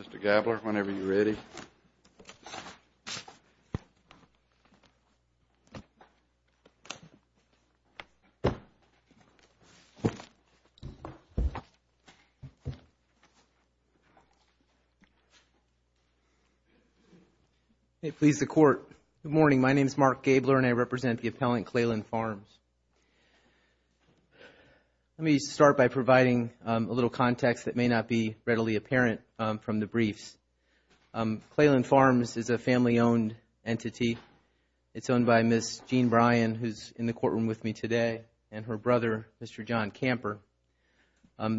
Mr. Gabler, whenever you're ready. It pleases the Court. Good morning, my name is Mark Gabler and I represent the appellant Clayland Farms. Let me start by providing a little context that may not be readily apparent from the briefs. Clayland Farms is a family-owned entity. It's owned by Ms. Jean Bryan, who's in the courtroom with me today, and her brother, Mr. John Camper.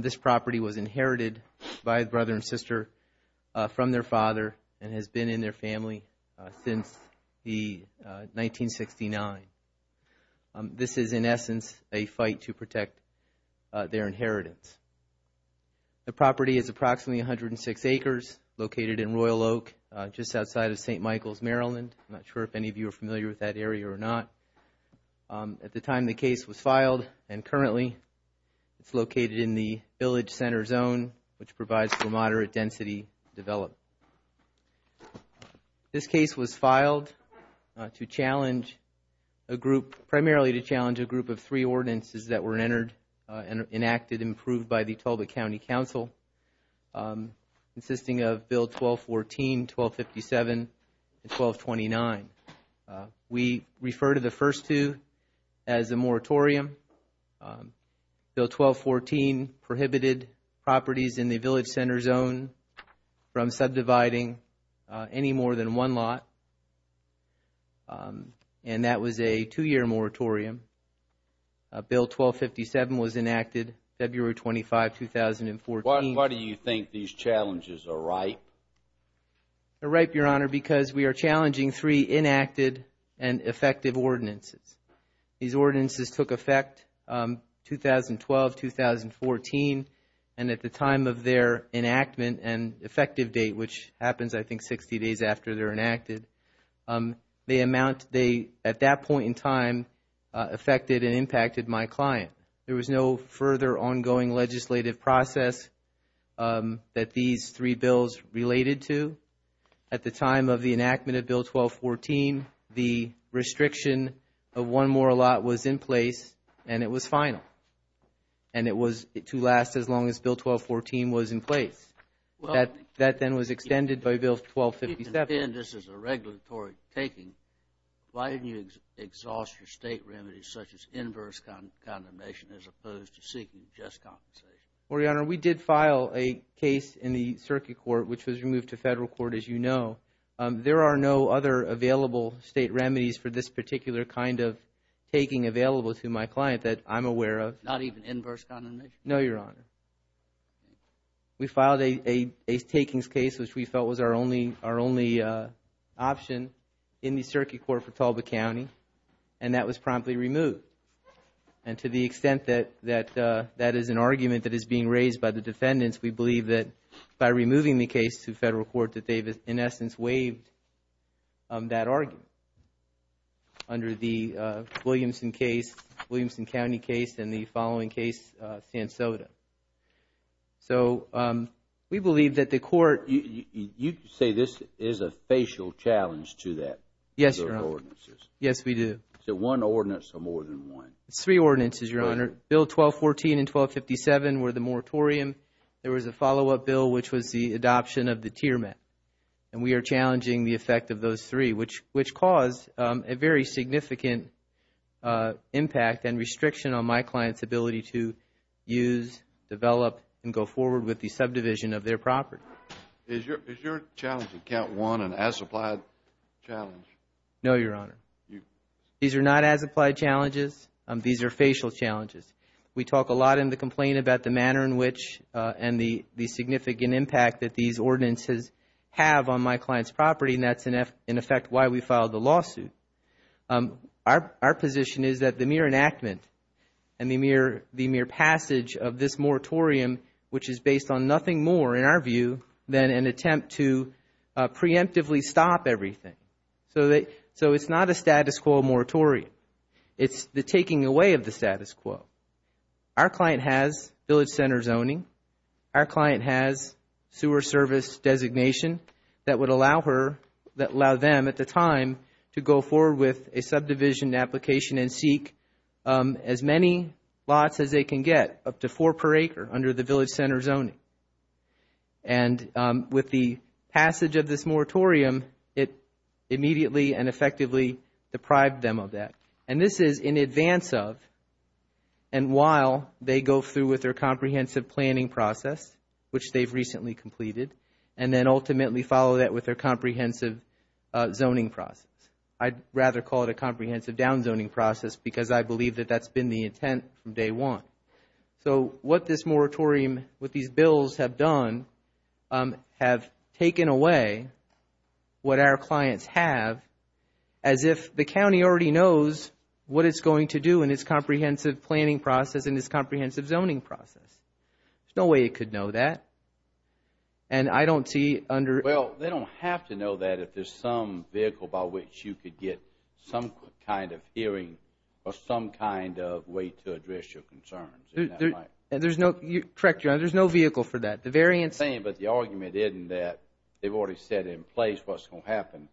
This property was inherited by a brother and sister from their father and has been in their family since 1969. This is, in essence, a fight to protect their inheritance. The property is approximately 106 acres, located in Royal Oak, just outside of St. Michael's, Maryland. I'm not sure if any of you are familiar with that area or not. At the time the case was filed, and currently, it's located in the Village Center Zone, which provides for moderate density development. This case was filed primarily to challenge a group of three ordinances that were enacted and approved by the Talbot County Council, consisting of Bill 1214, 1257, and 1229. We refer to the first two as a moratorium. Bill 1214 prohibited properties in the Village Center Zone from subdividing any more than one lot, and that was a two-year moratorium. Bill 1257 was enacted February 25, 2014. Why do you think these challenges are ripe? They're ripe, Your Honor, because we are challenging three enacted and effective ordinances. These ordinances took effect 2012, 2014, and at the time of their enactment and effective date, which happens, I think, 60 days after they're enacted, at that point in time, affected and impacted my client. There was no further ongoing legislative process that these three bills related to. At the time of the enactment of Bill 1214, the restriction of one more lot was in place, and it was final. And it was to last as long as Bill 1214 was in place. That then was extended by Bill 1257. If you contend this is a regulatory taking, why didn't you exhaust your state remedies, such as inverse condemnation, as opposed to seeking just compensation? Well, Your Honor, we did file a case in the Circuit Court, which was removed to federal court, as you know. There are no other available state remedies for this particular kind of taking available to my client that I'm aware of. Not even inverse condemnation? No, Your Honor. We filed a takings case, which we felt was our only option in the Circuit Court for Tulba County, and that was promptly removed. And to the extent that that is an argument that is being raised by the defendants, we believe that by removing the case to federal court that they've, in essence, waived that argument under the Williamson County case and the following case, San Soto. So we believe that the court You say this is a facial challenge to that? Yes, Your Honor. Yes, we do. So one ordinance or more than one? It's three ordinances, Your Honor. Bill 1214 and 1257 were the moratorium. There was a follow-up bill, which was the adoption of the tier mat. And we are challenging the effect of those three, which caused a very significant impact and restriction on my client's ability to use, develop, and go forward with the subdivision of their property. Is your challenge at count one an as-applied challenge? No, Your Honor. These are not as-applied challenges. These are facial challenges. We talk a lot in the complaint about the manner in which and the significant impact that these ordinances have on my client's property, and that's, in effect, why we filed the lawsuit. Our position is that the mere enactment and the mere passage of this moratorium, which is based on nothing more, in our view, than an attempt to preemptively stop everything. So it's not a status quo moratorium. It's the taking away of the status quo. Our client has village center zoning. Our client has sewer service designation that would allow them at the time to go forward with a subdivision application and seek as many lots as they can get, up to four per acre, under the village center zoning. And with the passage of this moratorium, it immediately and effectively deprived them of that. And this is in advance of and while they go through with their comprehensive planning process, which they've recently completed, and then ultimately follow that with their comprehensive zoning process. I'd rather call it a comprehensive downzoning process because I believe that that's been the intent from day one. So what this moratorium, what these bills have done, have taken away what our clients have, as if the county already knows what it's going to do in its comprehensive planning process and its comprehensive zoning process. There's no way it could know that. And I don't see under... Correct, Your Honor. There's no vehicle for that. The variance... But the argument isn't that they've already set in place what's going to happen.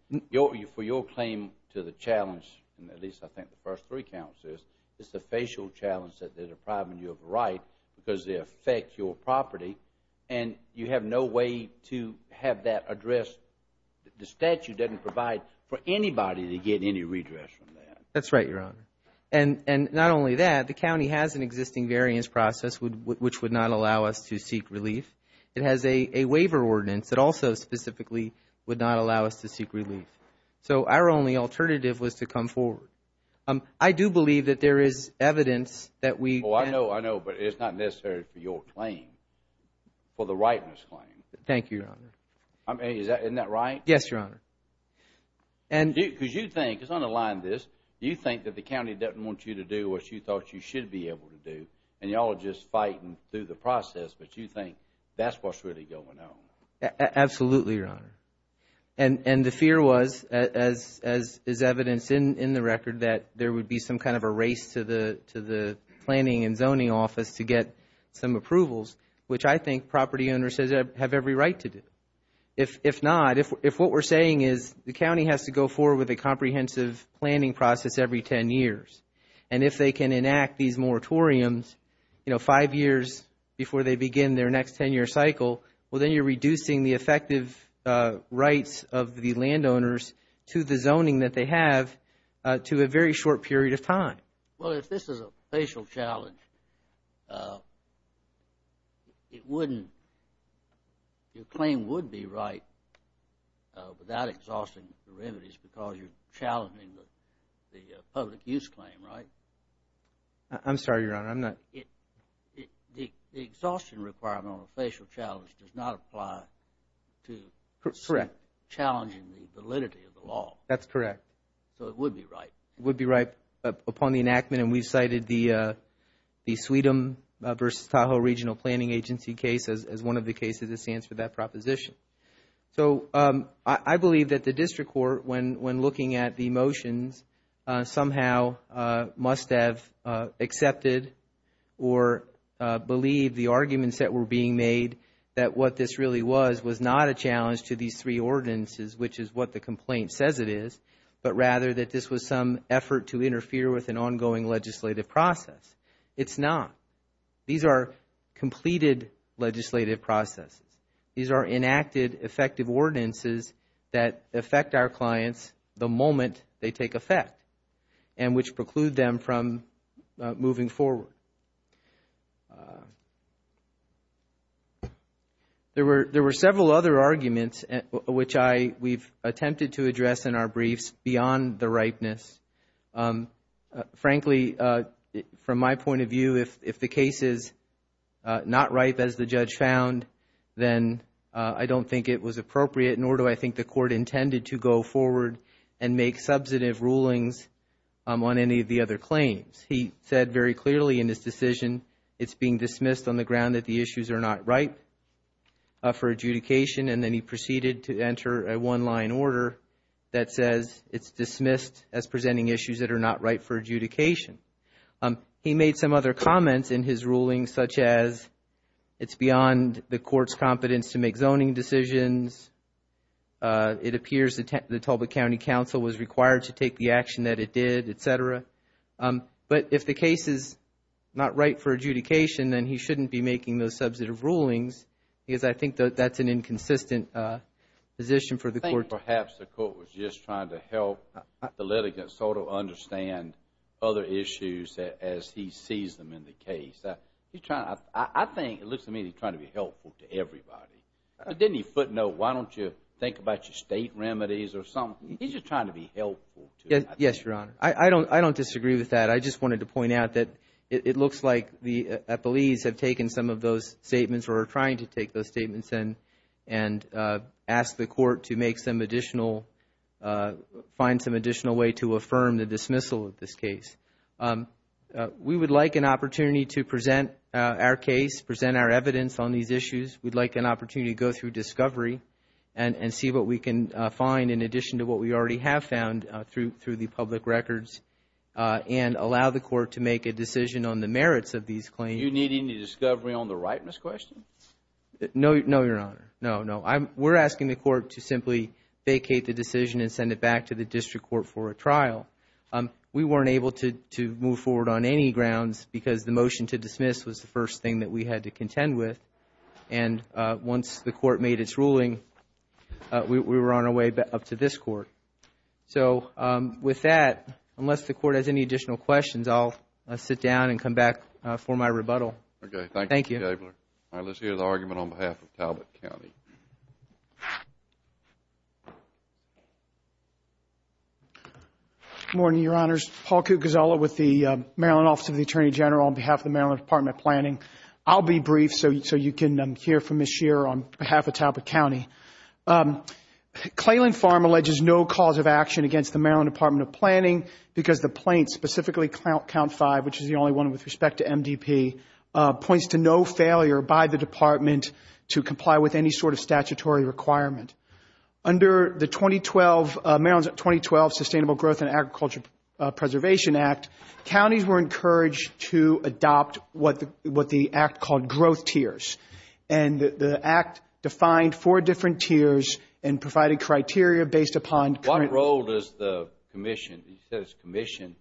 For your claim to the challenge, at least I think the first three counts is, is the facial challenge that they're depriving you of a right because they affect your property. And you have no way to have that addressed. The statute doesn't provide for anybody to get any redress from that. That's right, Your Honor. And not only that, the county has an existing variance process which would not allow us to seek relief. It has a waiver ordinance that also specifically would not allow us to seek relief. So our only alternative was to come forward. I do believe that there is evidence that we... Oh, I know, I know, but it's not necessarily for your claim, for the rightness claim. Thank you, Your Honor. I mean, isn't that right? Yes, Your Honor. Because you think, let's underline this, you think that the county doesn't want you to do what you thought you should be able to do, and you all are just fighting through the process, but you think that's what's really going on. Absolutely, Your Honor. And the fear was, as is evidenced in the record, that there would be some kind of a race to the planning and zoning office to get some approvals, which I think property owners have every right to do. If not, if what we're saying is the county has to go forward with a comprehensive planning process every 10 years, and if they can enact these moratoriums, you know, five years before they begin their next 10-year cycle, well, then you're reducing the effective rights of the landowners to the zoning that they have to a very short period of time. Well, if this is a facial challenge, it wouldn't – your claim would be right without exhausting the remedies because you're challenging the public use claim, right? I'm sorry, Your Honor. I'm not – The exhaustion requirement on a facial challenge does not apply to challenging the validity of the law. That's correct. So it would be right. It would be right upon the enactment, and we've cited the Sweden v. Tahoe Regional Planning Agency case as one of the cases that stands for that proposition. So I believe that the district court, when looking at the motions, somehow must have accepted or believed the arguments that were being made that what this really was was not a challenge to these three ordinances, which is what the complaint says it is, but rather that this was some effort to interfere with an ongoing legislative process. It's not. These are completed legislative processes. These are enacted effective ordinances that affect our clients the moment they take effect and which preclude them from moving forward. There were several other arguments which we've attempted to address in our briefs beyond the ripeness. Frankly, from my point of view, if the case is not ripe, as the judge found, then I don't think it was appropriate, nor do I think the court intended to go forward and make substantive rulings on any of the other claims. He said very clearly in his decision it's being dismissed on the ground that the issues are not ripe for adjudication, and then he proceeded to enter a one-line order that says it's dismissed as presenting issues that are not ripe for adjudication. He made some other comments in his ruling, such as it's beyond the court's competence to make zoning decisions, it appears the Tulba County Council was required to take the action that it did, et cetera. But if the case is not ripe for adjudication, then he shouldn't be making those substantive rulings because I think that's an inconsistent position for the court. I think perhaps the court was just trying to help the litigant sort of understand other issues as he sees them in the case. I think it looks to me like he's trying to be helpful to everybody. But didn't he footnote, why don't you think about your state remedies or something? He's just trying to be helpful. Yes, Your Honor. I don't disagree with that. I just wanted to point out that it looks like the police have taken some of those statements or are trying to take those statements and ask the court to make some additional, find some additional way to affirm the dismissal of this case. We would like an opportunity to present our case, present our evidence on these issues. We'd like an opportunity to go through discovery and see what we can find in addition to what we already have found through the public records and allow the court to make a decision on the merits of these claims. Do you need any discovery on the ripeness question? No, Your Honor. No, no. We're asking the court to simply vacate the decision and send it back to the district court for a trial. We weren't able to move forward on any grounds because the motion to dismiss was the first thing that we had to contend with. And once the court made its ruling, we were on our way up to this court. So with that, unless the court has any additional questions, I'll sit down and come back for my rebuttal. Thank you, Mr. Gabler. Thank you. All right. Let's hear the argument on behalf of Talbot County. Good morning, Your Honors. Paul Cucazzella with the Maryland Office of the Attorney General on behalf of the Maryland Department of Planning. I'll be brief so you can hear from Ms. Scheer on behalf of Talbot County. Clayland Farm alleges no cause of action against the Maryland Department of Planning because the plaint specifically, Count 5, which is the only one with respect to MDP, points to no failure by the department to comply with any sort of statutory requirement. Under the 2012, Maryland's 2012 Sustainable Growth and Agriculture Preservation Act, counties were encouraged to adopt what the act called growth tiers. And the act defined four different tiers and provided criteria based upon current. What role does the commission, you said it's commission.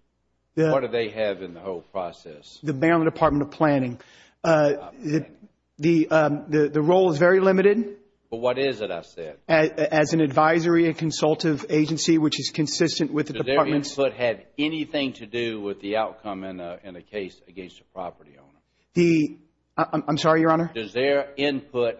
What do they have in the whole process? The Maryland Department of Planning. The role is very limited. But what is it I said? As an advisory and consultive agency which is consistent with the department's. Does their input have anything to do with the outcome in a case against a property owner? I'm sorry, Your Honor. Does their input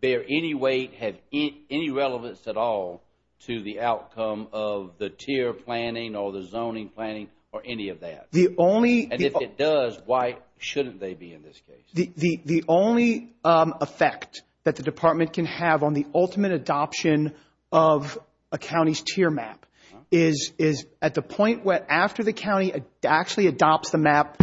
bear any weight, have any relevance at all to the outcome of the tier planning or the zoning planning or any of that? The only. And if it does, why shouldn't they be in this case? The only effect that the department can have on the ultimate adoption of a county's tier map is at the point where after the county actually adopts the map,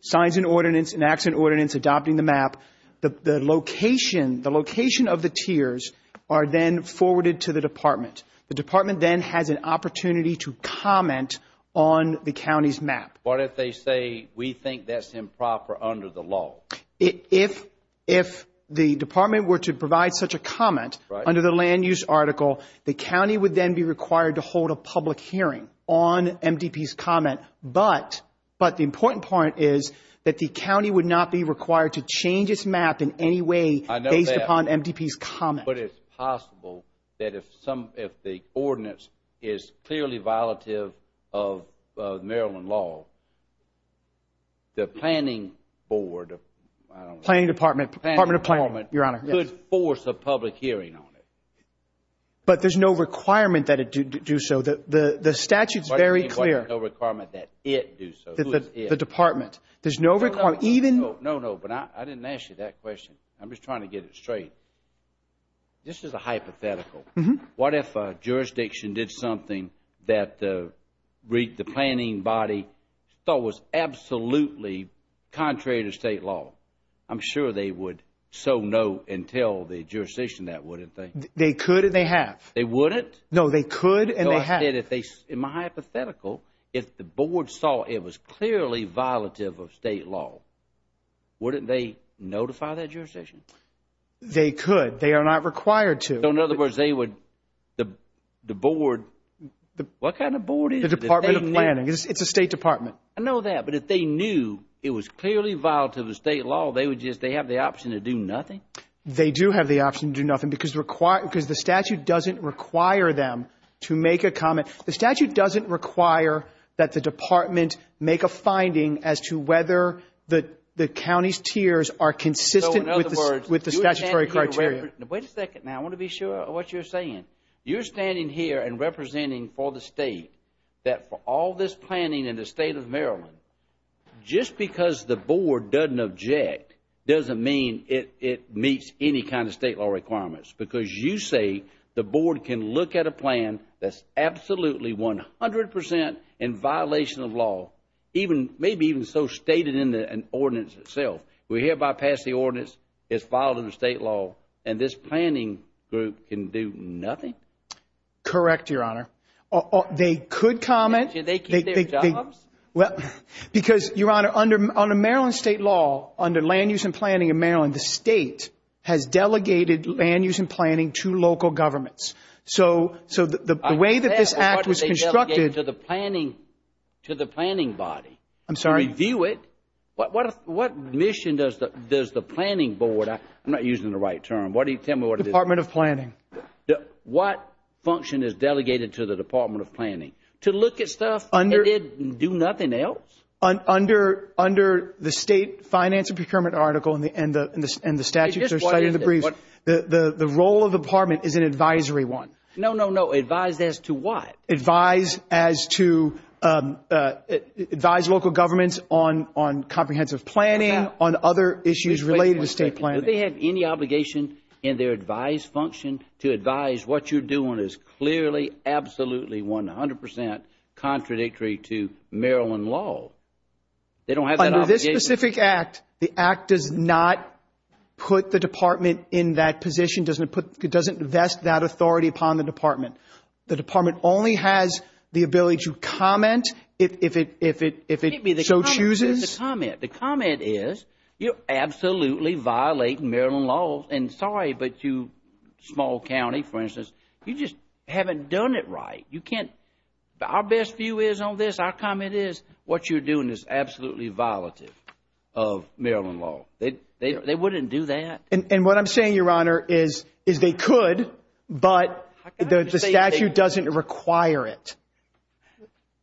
signs an ordinance, enacts an ordinance adopting the map, the location of the tiers are then forwarded to the department. The department then has an opportunity to comment on the county's map. What if they say we think that's improper under the law? If the department were to provide such a comment under the land use article, the county would then be required to hold a public hearing on MDP's comment. But the important part is that the county would not be required to change its map in any way based upon MDP's comment. But it's possible that if the ordinance is clearly violative of Maryland law, the planning board, I don't know. Planning department. Department of Planning, Your Honor. Could force a public hearing on it. But there's no requirement that it do so. The statute is very clear. What do you mean by no requirement that it do so? The department. There's no requirement. No, no, but I didn't ask you that question. I'm just trying to get it straight. This is a hypothetical. What if a jurisdiction did something that the planning body thought was absolutely contrary to state law? I'm sure they would so know and tell the jurisdiction that, wouldn't they? They could and they have. They wouldn't? No, they could and they have. In my hypothetical, if the board saw it was clearly violative of state law, wouldn't they notify that jurisdiction? They could. They are not required to. So in other words, they would, the board, what kind of board is it? The Department of Planning. It's a state department. I know that. But if they knew it was clearly violative of state law, they would just, they have the option to do nothing? They do have the option to do nothing because the statute doesn't require them to make a comment. The statute doesn't require that the department make a finding as to whether the county's tiers are consistent with the statutory criteria. Wait a second now. I want to be sure of what you're saying. You're standing here and representing for the state that for all this planning in the state of Maryland, just because the board doesn't object doesn't mean it meets any kind of state law requirements. Because you say the board can look at a plan that's absolutely 100% in violation of law, maybe even so stated in the ordinance itself. We hereby pass the ordinance. It's violated of state law. And this planning group can do nothing? Correct, Your Honor. They could comment. They keep their jobs? Because, Your Honor, under Maryland state law, under land use and planning in Maryland, the state has delegated land use and planning to local governments. So the way that this act was constructed to the planning body to review it, what mission does the planning board, I'm not using the right term, tell me what it is. Department of Planning. What function is delegated to the Department of Planning? To look at stuff and do nothing else? Under the state finance and procurement article and the statutes that are cited in the brief, the role of the department is an advisory one. No, no, no. Advise as to what? Advise as to advise local governments on comprehensive planning, on other issues related to state planning. Do they have any obligation in their advised function to advise what you're doing is clearly, absolutely 100% contradictory to Maryland law? They don't have that obligation? Under this specific act, the act does not put the department in that position, doesn't invest that authority upon the department. The department only has the ability to comment if it so chooses. The comment is you're absolutely violating Maryland law. And sorry, but you, small county, for instance, you just haven't done it right. You can't. Our best view is on this, our comment is what you're doing is absolutely violative of Maryland law. They wouldn't do that. And what I'm saying, Your Honor, is they could, but the statute doesn't require it.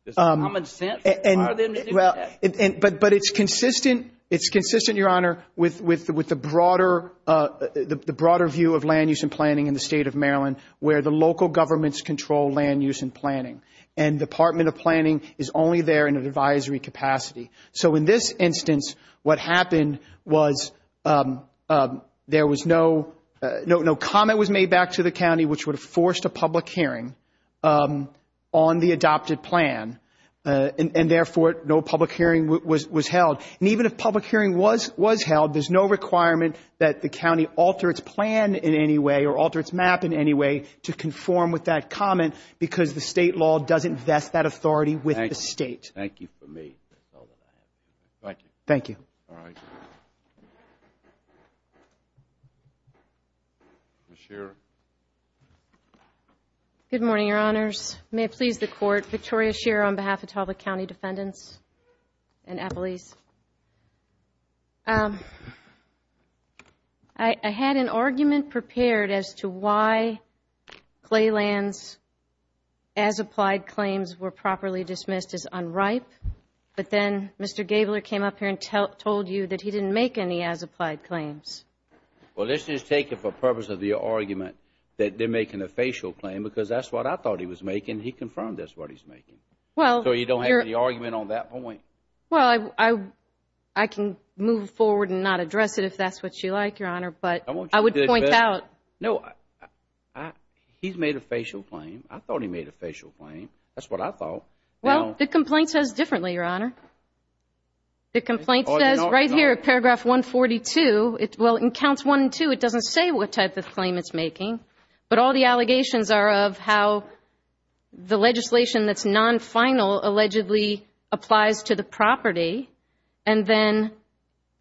It's common sense for them to do that. But it's consistent, it's consistent, Your Honor, with the broader view of land use and planning in the State of Maryland, where the local governments control land use and planning. And the Department of Planning is only there in an advisory capacity. So in this instance, what happened was there was no comment was made back to the county which would have forced a public hearing on the adopted plan, and therefore no public hearing was held. And even if public hearing was held, there's no requirement that the county alter its plan in any way or alter its map in any way to conform with that comment because the state law doesn't vest that authority with the state. Thank you for me. Thank you. All right. Ms. Shearer. Good morning, Your Honors. May it please the Court. Victoria Shearer on behalf of Tulsa County Defendants and Appalachians. I had an argument prepared as to why clay lands, as applied claims, were properly dismissed as unripe. But then Mr. Gabler came up here and told you that he didn't make any as applied claims. Well, this is taken for purpose of the argument that they're making a facial claim because that's what I thought he was making. He confirmed that's what he's making. So you don't have any argument on that point? Well, I can move forward and not address it if that's what you like, Your Honor, but I would point out. No, he's made a facial claim. I thought he made a facial claim. That's what I thought. Well, the complaint says differently, Your Honor. The complaint says right here at paragraph 142, well, in counts 1 and 2, it doesn't say what type of claim it's making, but all the allegations are of how the legislation that's non-final allegedly applies to the property, and then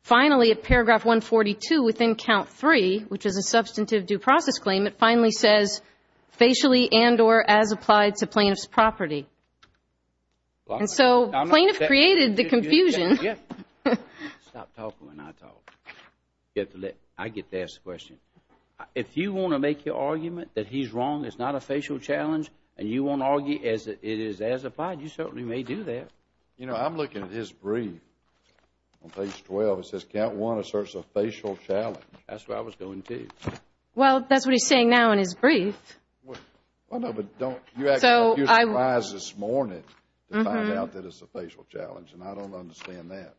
finally at paragraph 142 within count 3, which is a substantive due process claim, it finally says facially and or as applied to plaintiff's property. And so plaintiff created the confusion. Stop talking when I talk. I get to ask the question. If you want to make your argument that he's wrong, it's not a facial challenge, and you want to argue it is as applied, you certainly may do that. You know, I'm looking at his brief on page 12. It says count 1 asserts a facial challenge. That's what I was going to. Well, that's what he's saying now in his brief. Well, no, but don't. You actually surprised us this morning to find out that it's a facial challenge, and I don't understand that.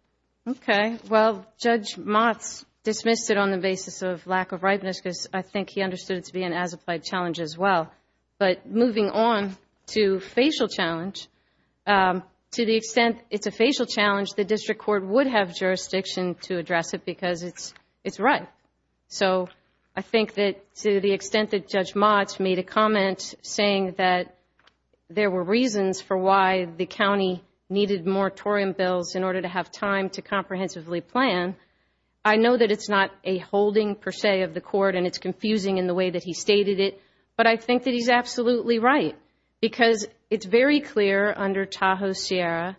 Okay. Well, Judge Motz dismissed it on the basis of lack of rightness because I think he understood it to be an as applied challenge as well. But moving on to facial challenge, to the extent it's a facial challenge, the district court would have jurisdiction to address it because it's right. So I think that to the extent that Judge Motz made a comment saying that there were reasons for why the county needed moratorium bills in order to have time to comprehensively plan, I know that it's not a holding per se of the court and it's confusing in the way that he stated it, but I think that he's absolutely right because it's very clear under Tahoe-Sierra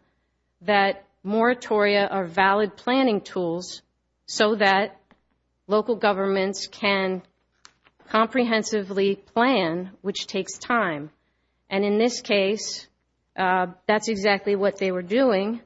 that moratoria are valid planning tools so that local governments can comprehensively plan, which takes time. And in this case, that's exactly what they were doing.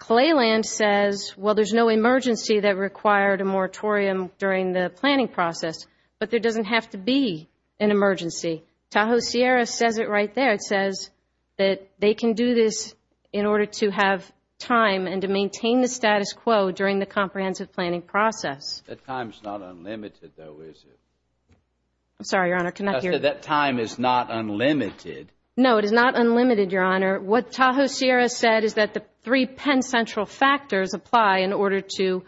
Clayland says, well, there's no emergency that required a moratorium during the planning process, but there doesn't have to be an emergency. Tahoe-Sierra says it right there. It says that they can do this in order to have time and to maintain the status quo during the comprehensive planning process. That time is not unlimited, though, is it? I'm sorry, Your Honor. Can I hear? I said that time is not unlimited. No, it is not unlimited, Your Honor. What Tahoe-Sierra said is that the three pen central factors apply in order to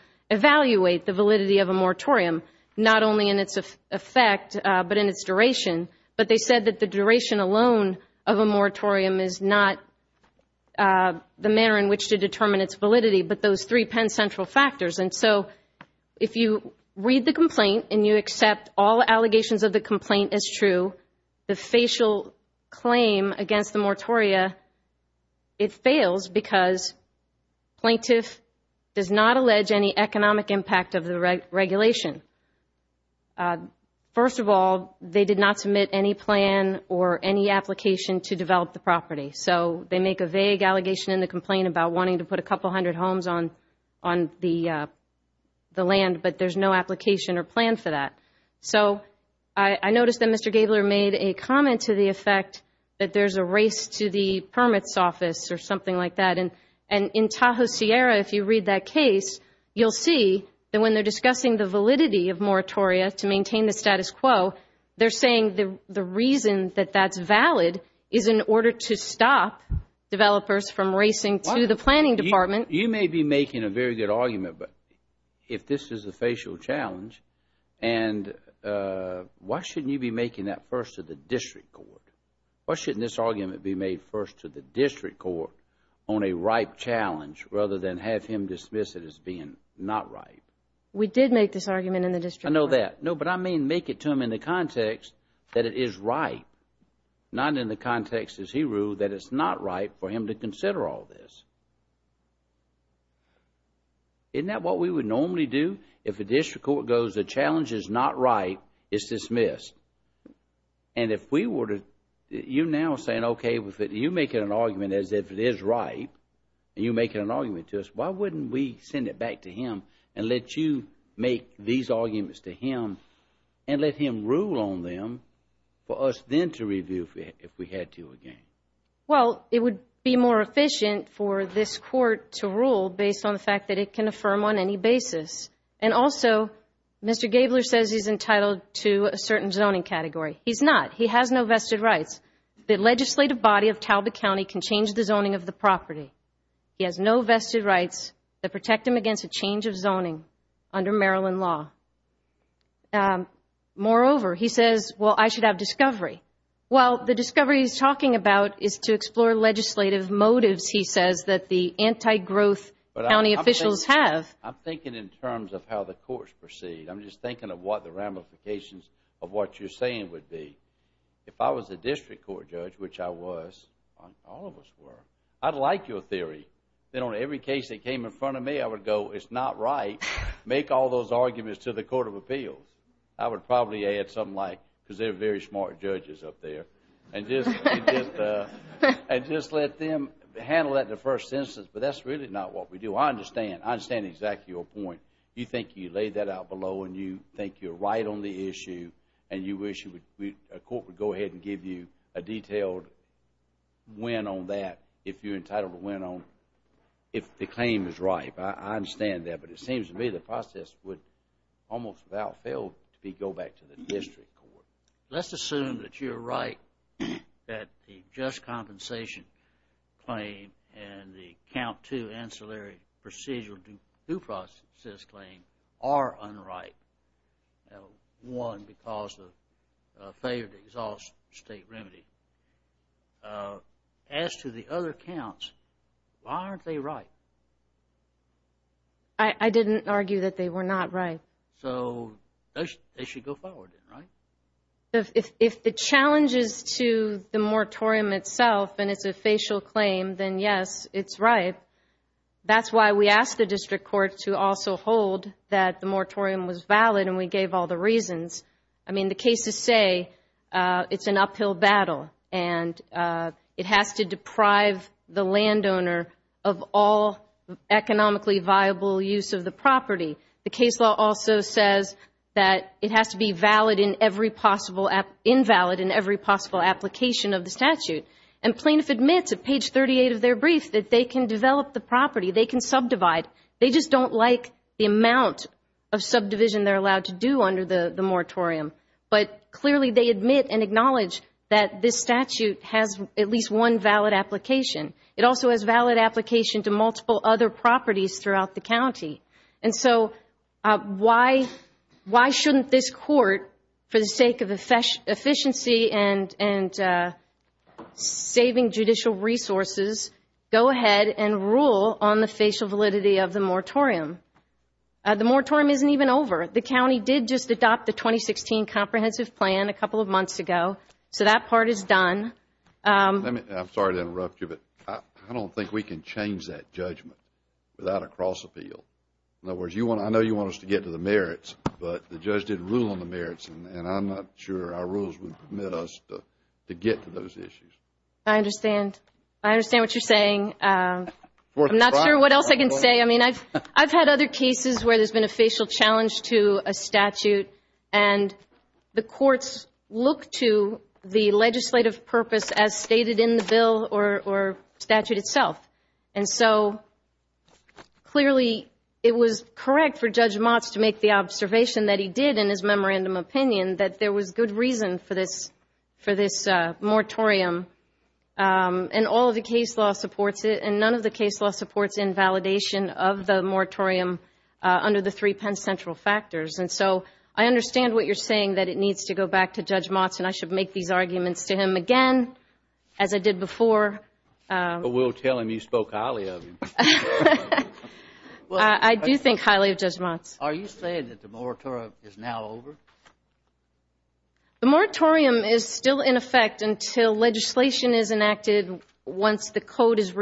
the duration alone of a moratorium is not the manner in which to determine its validity, but those three pen central factors. And so if you read the complaint and you accept all allegations of the complaint as true, the facial claim against the moratoria, it fails because plaintiff does not allege any economic impact of the regulation. First of all, they did not submit any plan or any application to develop the property. So they make a vague allegation in the complaint about wanting to put a couple hundred homes on the land, but there's no application or plan for that. So I noticed that Mr. Gabler made a comment to the effect that there's a race to the permits office or something like that. And in Tahoe-Sierra, if you read that case, you'll see that when they're talking about the validity of moratoria to maintain the status quo, they're saying the reason that that's valid is in order to stop developers from racing to the planning department. You may be making a very good argument, but if this is a facial challenge, and why shouldn't you be making that first to the district court? Why shouldn't this argument be made first to the district court on a ripe challenge rather than have him dismiss it as being not ripe? We did make this argument in the district court. I know that. No, but I mean make it to him in the context that it is ripe, not in the context, as he ruled, that it's not ripe for him to consider all this. Isn't that what we would normally do? If the district court goes the challenge is not ripe, it's dismissed. And if we were to, you're now saying, okay, you're making an argument as if it is ripe, and you're making an argument to us, why wouldn't we send it back to him and let you make these arguments to him and let him rule on them for us then to review if we had to again? Well, it would be more efficient for this court to rule based on the fact that it can affirm on any basis. And also, Mr. Gabler says he's entitled to a certain zoning category. He's not. He has no vested rights. The legislative body of Talbot County can change the zoning of the property. He has no vested rights that protect him against a change of zoning under Maryland law. Moreover, he says, well, I should have discovery. Well, the discovery he's talking about is to explore legislative motives, he says, that the anti-growth county officials have. I'm thinking in terms of how the courts proceed. I'm just thinking of what the ramifications of what you're saying would be. If I was a district court judge, which I was, all of us were, I'd like you to have a theory. Then on every case that came in front of me, I would go, it's not right. Make all those arguments to the Court of Appeals. I would probably add something like, because they're very smart judges up there, and just let them handle that in the first instance. But that's really not what we do. I understand. I understand exactly your point. You think you laid that out below and you think you're right on the issue and you wish a court would go ahead and give you a detailed win on that if you're entitled to win on if the claim is ripe. I understand that. But it seems to me the process would almost without fail go back to the district court. Let's assume that you're right that the just compensation claim and the count two ancillary procedural due process claim are unripe. One, because of a failure to exhaust state remedy. As to the other counts, why aren't they ripe? I didn't argue that they were not ripe. So they should go forward, right? If the challenge is to the moratorium itself and it's a facial claim, then yes, it's ripe. That's why we asked the district court to also hold that the moratorium was valid and we gave all the reasons. I mean, the cases say it's an uphill battle and it has to deprive the landowner of all economically viable use of the property. The case law also says that it has to be invalid in every possible application of the statute. And plaintiff admits at page 38 of their brief that they can develop the property, they can subdivide. They just don't like the amount of subdivision they're allowed to do under the moratorium. But clearly they admit and acknowledge that this statute has at least one valid application. It also has valid application to multiple other properties throughout the county. And so why shouldn't this court, for the sake of efficiency and saving judicial resources, go ahead and rule on the facial validity of the moratorium? The moratorium isn't even over. The county did just adopt the 2016 comprehensive plan a couple of months ago. So that part is done. I'm sorry to interrupt you, but I don't think we can change that judgment without a cross-appeal. In other words, I know you want us to get to the merits, but the judge didn't rule on the merits and I'm not sure our rules would permit us to get to those issues. I understand. I understand what you're saying. I'm not sure what else I can say. I mean, I've had other cases where there's been a facial challenge to a statute and the courts look to the legislative purpose as stated in the bill or statute itself. And so clearly it was correct for Judge Motz to make the observation that he did in his memorandum opinion that there was good reason for this moratorium. And all of the case law supports it and none of the case law supports invalidation of the moratorium under the three Penn Central factors. And so I understand what you're saying, that it needs to go back to Judge Motz and I should make these arguments to him again, as I did before. But we'll tell him you spoke highly of him. I do think highly of Judge Motz. Are you saying that the moratorium is now over? The moratorium is still in effect until legislation is enacted once the code is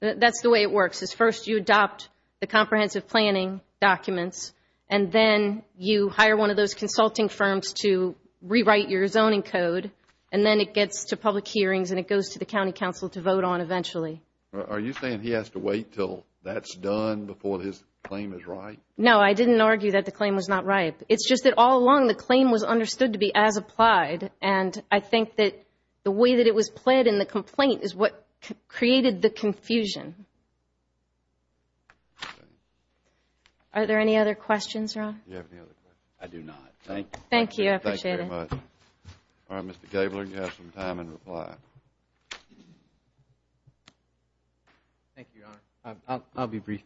That's the way it works is first you adopt the comprehensive planning documents and then you hire one of those consulting firms to rewrite your zoning code. And then it gets to public hearings and it goes to the county council to vote on eventually. Are you saying he has to wait until that's done before his claim is right? No, I didn't argue that the claim was not right. It's just that all along the claim was understood to be as applied. And I think that the way that it was played in the complaint is what created the confusion. Are there any other questions, Ron? Do you have any other questions? I do not. Thank you. Thank you. I appreciate it. All right, Mr. Gabler, you have some time in reply. Thank you, Your Honor. I'll be brief.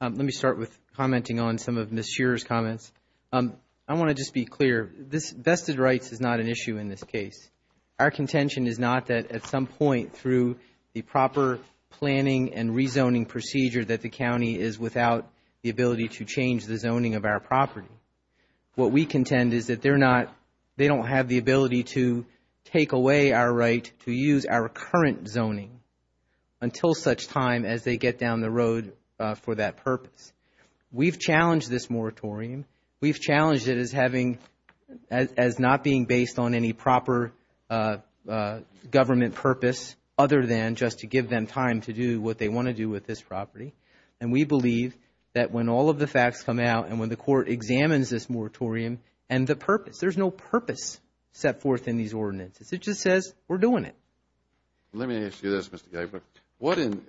Let me start with commenting on some of Ms. Shearer's comments. I want to just be clear. Vested rights is not an issue in this case. Our contention is not that at some point through the proper planning and rezoning procedure that the county is without the ability to change the zoning of our property. What we contend is that they don't have the ability to take away our right to use our current zoning until such time as they get down the road for that purpose. We've challenged this moratorium. We've challenged it as not being based on any proper government purpose other than just to give them time to do what they want to do with this property. And we believe that when all of the facts come out and when the court examines this moratorium and the purpose, there's no purpose set forth in these ordinances. It just says we're doing it. Let me ask you this, Mr. Gabler. What in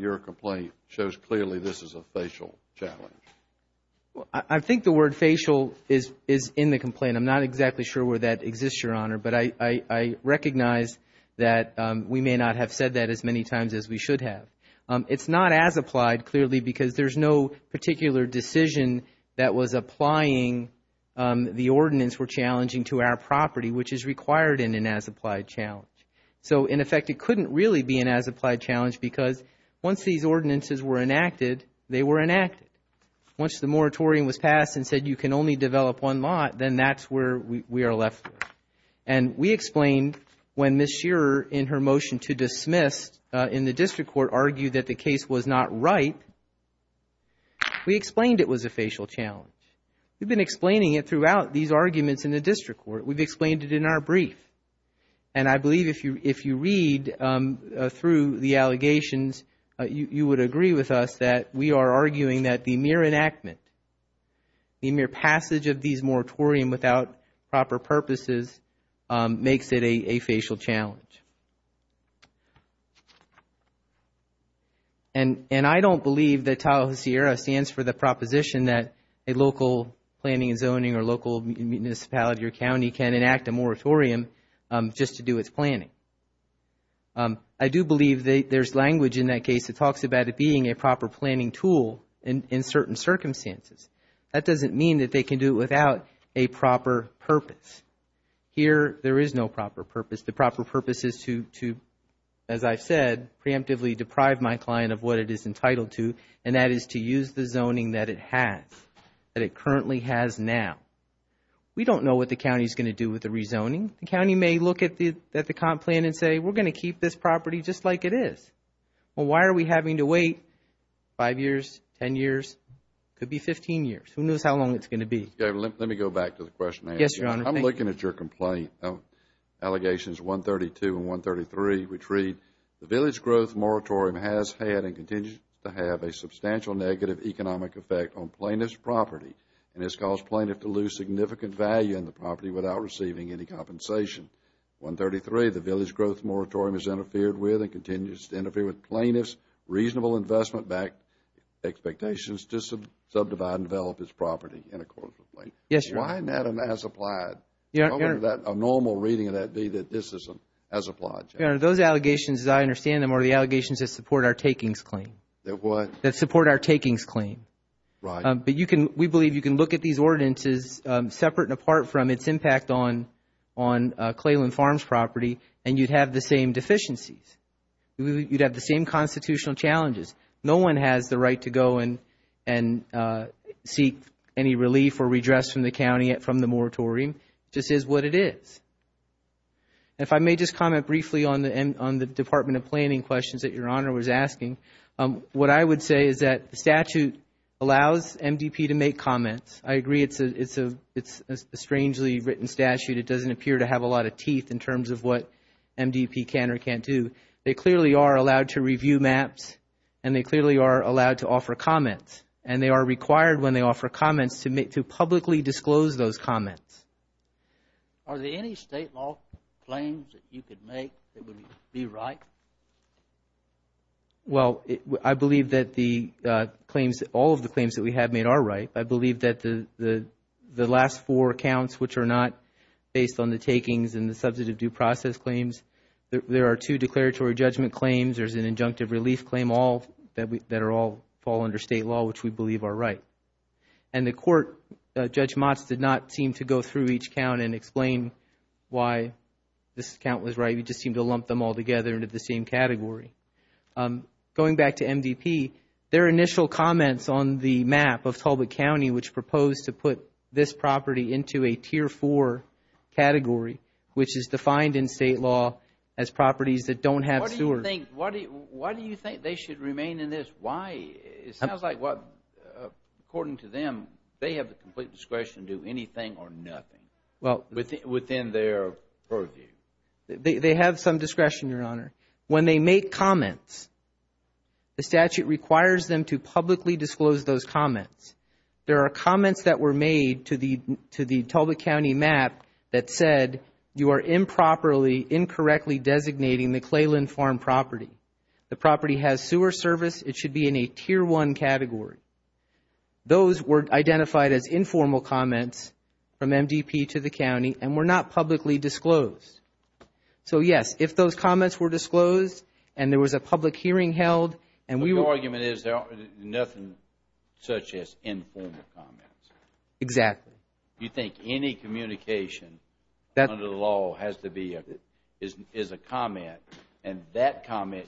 your complaint shows clearly this is a facial challenge? I think the word facial is in the complaint. I'm not exactly sure where that exists, Your Honor. But I recognize that we may not have said that as many times as we should have. It's not as applied, clearly, because there's no particular decision that was applying the ordinance we're challenging to our property, which is required in an as applied challenge. So, in effect, it couldn't really be an as applied challenge because once these ordinances were enacted, they were enacted. Once the moratorium was passed and said you can only develop one lot, then that's where we are left with. And we explained when Ms. Shearer, in her motion to dismiss in the district court, argued that the case was not right, we explained it was a facial challenge. We've been explaining it throughout these arguments in the district court. We've explained it in our brief. And I believe if you read through the allegations, you would agree with us that we are arguing that the mere enactment, the mere passage of these moratoriums without proper purposes makes it a facial challenge. And I don't believe that Tallahassee Area stands for the proposition that a zoning is required just to do its planning. I do believe there's language in that case that talks about it being a proper planning tool in certain circumstances. That doesn't mean that they can do it without a proper purpose. Here there is no proper purpose. The proper purpose is to, as I've said, preemptively deprive my client of what it is entitled to, and that is to use the zoning that it has, that it currently has now. We don't know what the county is going to do with the rezoning. The county may look at the comp plan and say, we're going to keep this property just like it is. Well, why are we having to wait five years, ten years? It could be 15 years. Who knows how long it's going to be? Let me go back to the question. Yes, Your Honor. I'm looking at your complaint. Allegations 132 and 133, which read, the village growth moratorium has had and continues to have a substantial negative economic effect on plaintiff's property and has caused plaintiff to lose significant value in the property without receiving any compensation. 133, the village growth moratorium has interfered with and continues to interfere with plaintiff's reasonable investment-backed expectations to subdivide and develop this property in accordance with the plaintiff. Yes, Your Honor. Why isn't that an as-applied? How would a normal reading of that be that this is an as-applied? Your Honor, those allegations, as I understand them, are the allegations that support our takings claim. That what? That support our takings claim. Right. But we believe you can look at these ordinances separate and apart from its impact on Clayland Farms property and you'd have the same deficiencies. You'd have the same constitutional challenges. No one has the right to go and seek any relief or redress from the county from the moratorium. It just is what it is. If I may just comment briefly on the Department of Planning questions that the statute allows MDP to make comments. I agree it's a strangely written statute. It doesn't appear to have a lot of teeth in terms of what MDP can or can't do. They clearly are allowed to review maps and they clearly are allowed to offer comments, and they are required when they offer comments to publicly disclose those comments. Are there any state law claims that you could make that would be right? Well, I believe that all of the claims that we have made are right. I believe that the last four accounts, which are not based on the takings and the substantive due process claims, there are two declaratory judgment claims. There's an injunctive relief claim that all fall under state law, which we believe are right. And the court, Judge Motz, did not seem to go through each count and explain why this count was right. We just seem to lump them all together into the same category. Going back to MDP, their initial comments on the map of Talbot County, which proposed to put this property into a tier four category, which is defined in state law as properties that don't have sewers. Why do you think they should remain in this? It sounds like, according to them, they have the complete discretion to do anything or nothing within their purview. They have some discretion, Your Honor. When they make comments, the statute requires them to publicly disclose those comments. There are comments that were made to the Talbot County map that said, you are improperly, incorrectly designating the Clayland Farm property. The property has sewer service. It should be in a tier one category. Those were identified as informal comments from MDP to the county and were not publicly disclosed. Yes, if those comments were disclosed and there was a public hearing held. The argument is there are nothing such as informal comments. Exactly. You think any communication under the law is a comment.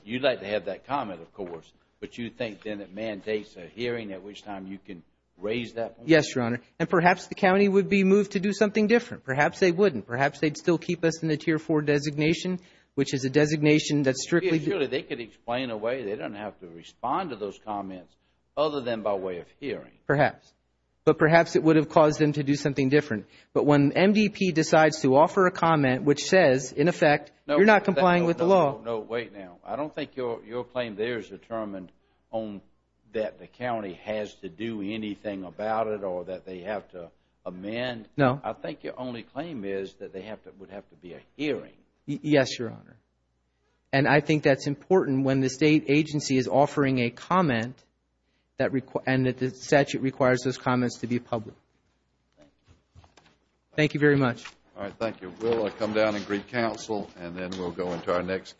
You would like to have that comment, of course, but you think then it mandates a hearing at which time you can raise that point? Yes, Your Honor. Perhaps the county would be moved to do something different. Perhaps they wouldn't. Perhaps they would still keep us in the tier four designation, which is a designation that strictly. They could explain away. They don't have to respond to those comments other than by way of hearing. Perhaps. But perhaps it would have caused them to do something different. But when MDP decides to offer a comment which says, in effect, you're not complying with the law. No, wait now. I don't think your claim there is determined on that the county has to do anything about it or that they have to amend. No. I think your only claim is that there would have to be a hearing. Yes, Your Honor. And I think that's important when the state agency is offering a comment and that the statute requires those comments to be public. Thank you. Thank you very much. All right, thank you. We'll come down and greet counsel, and then we'll go into our next case.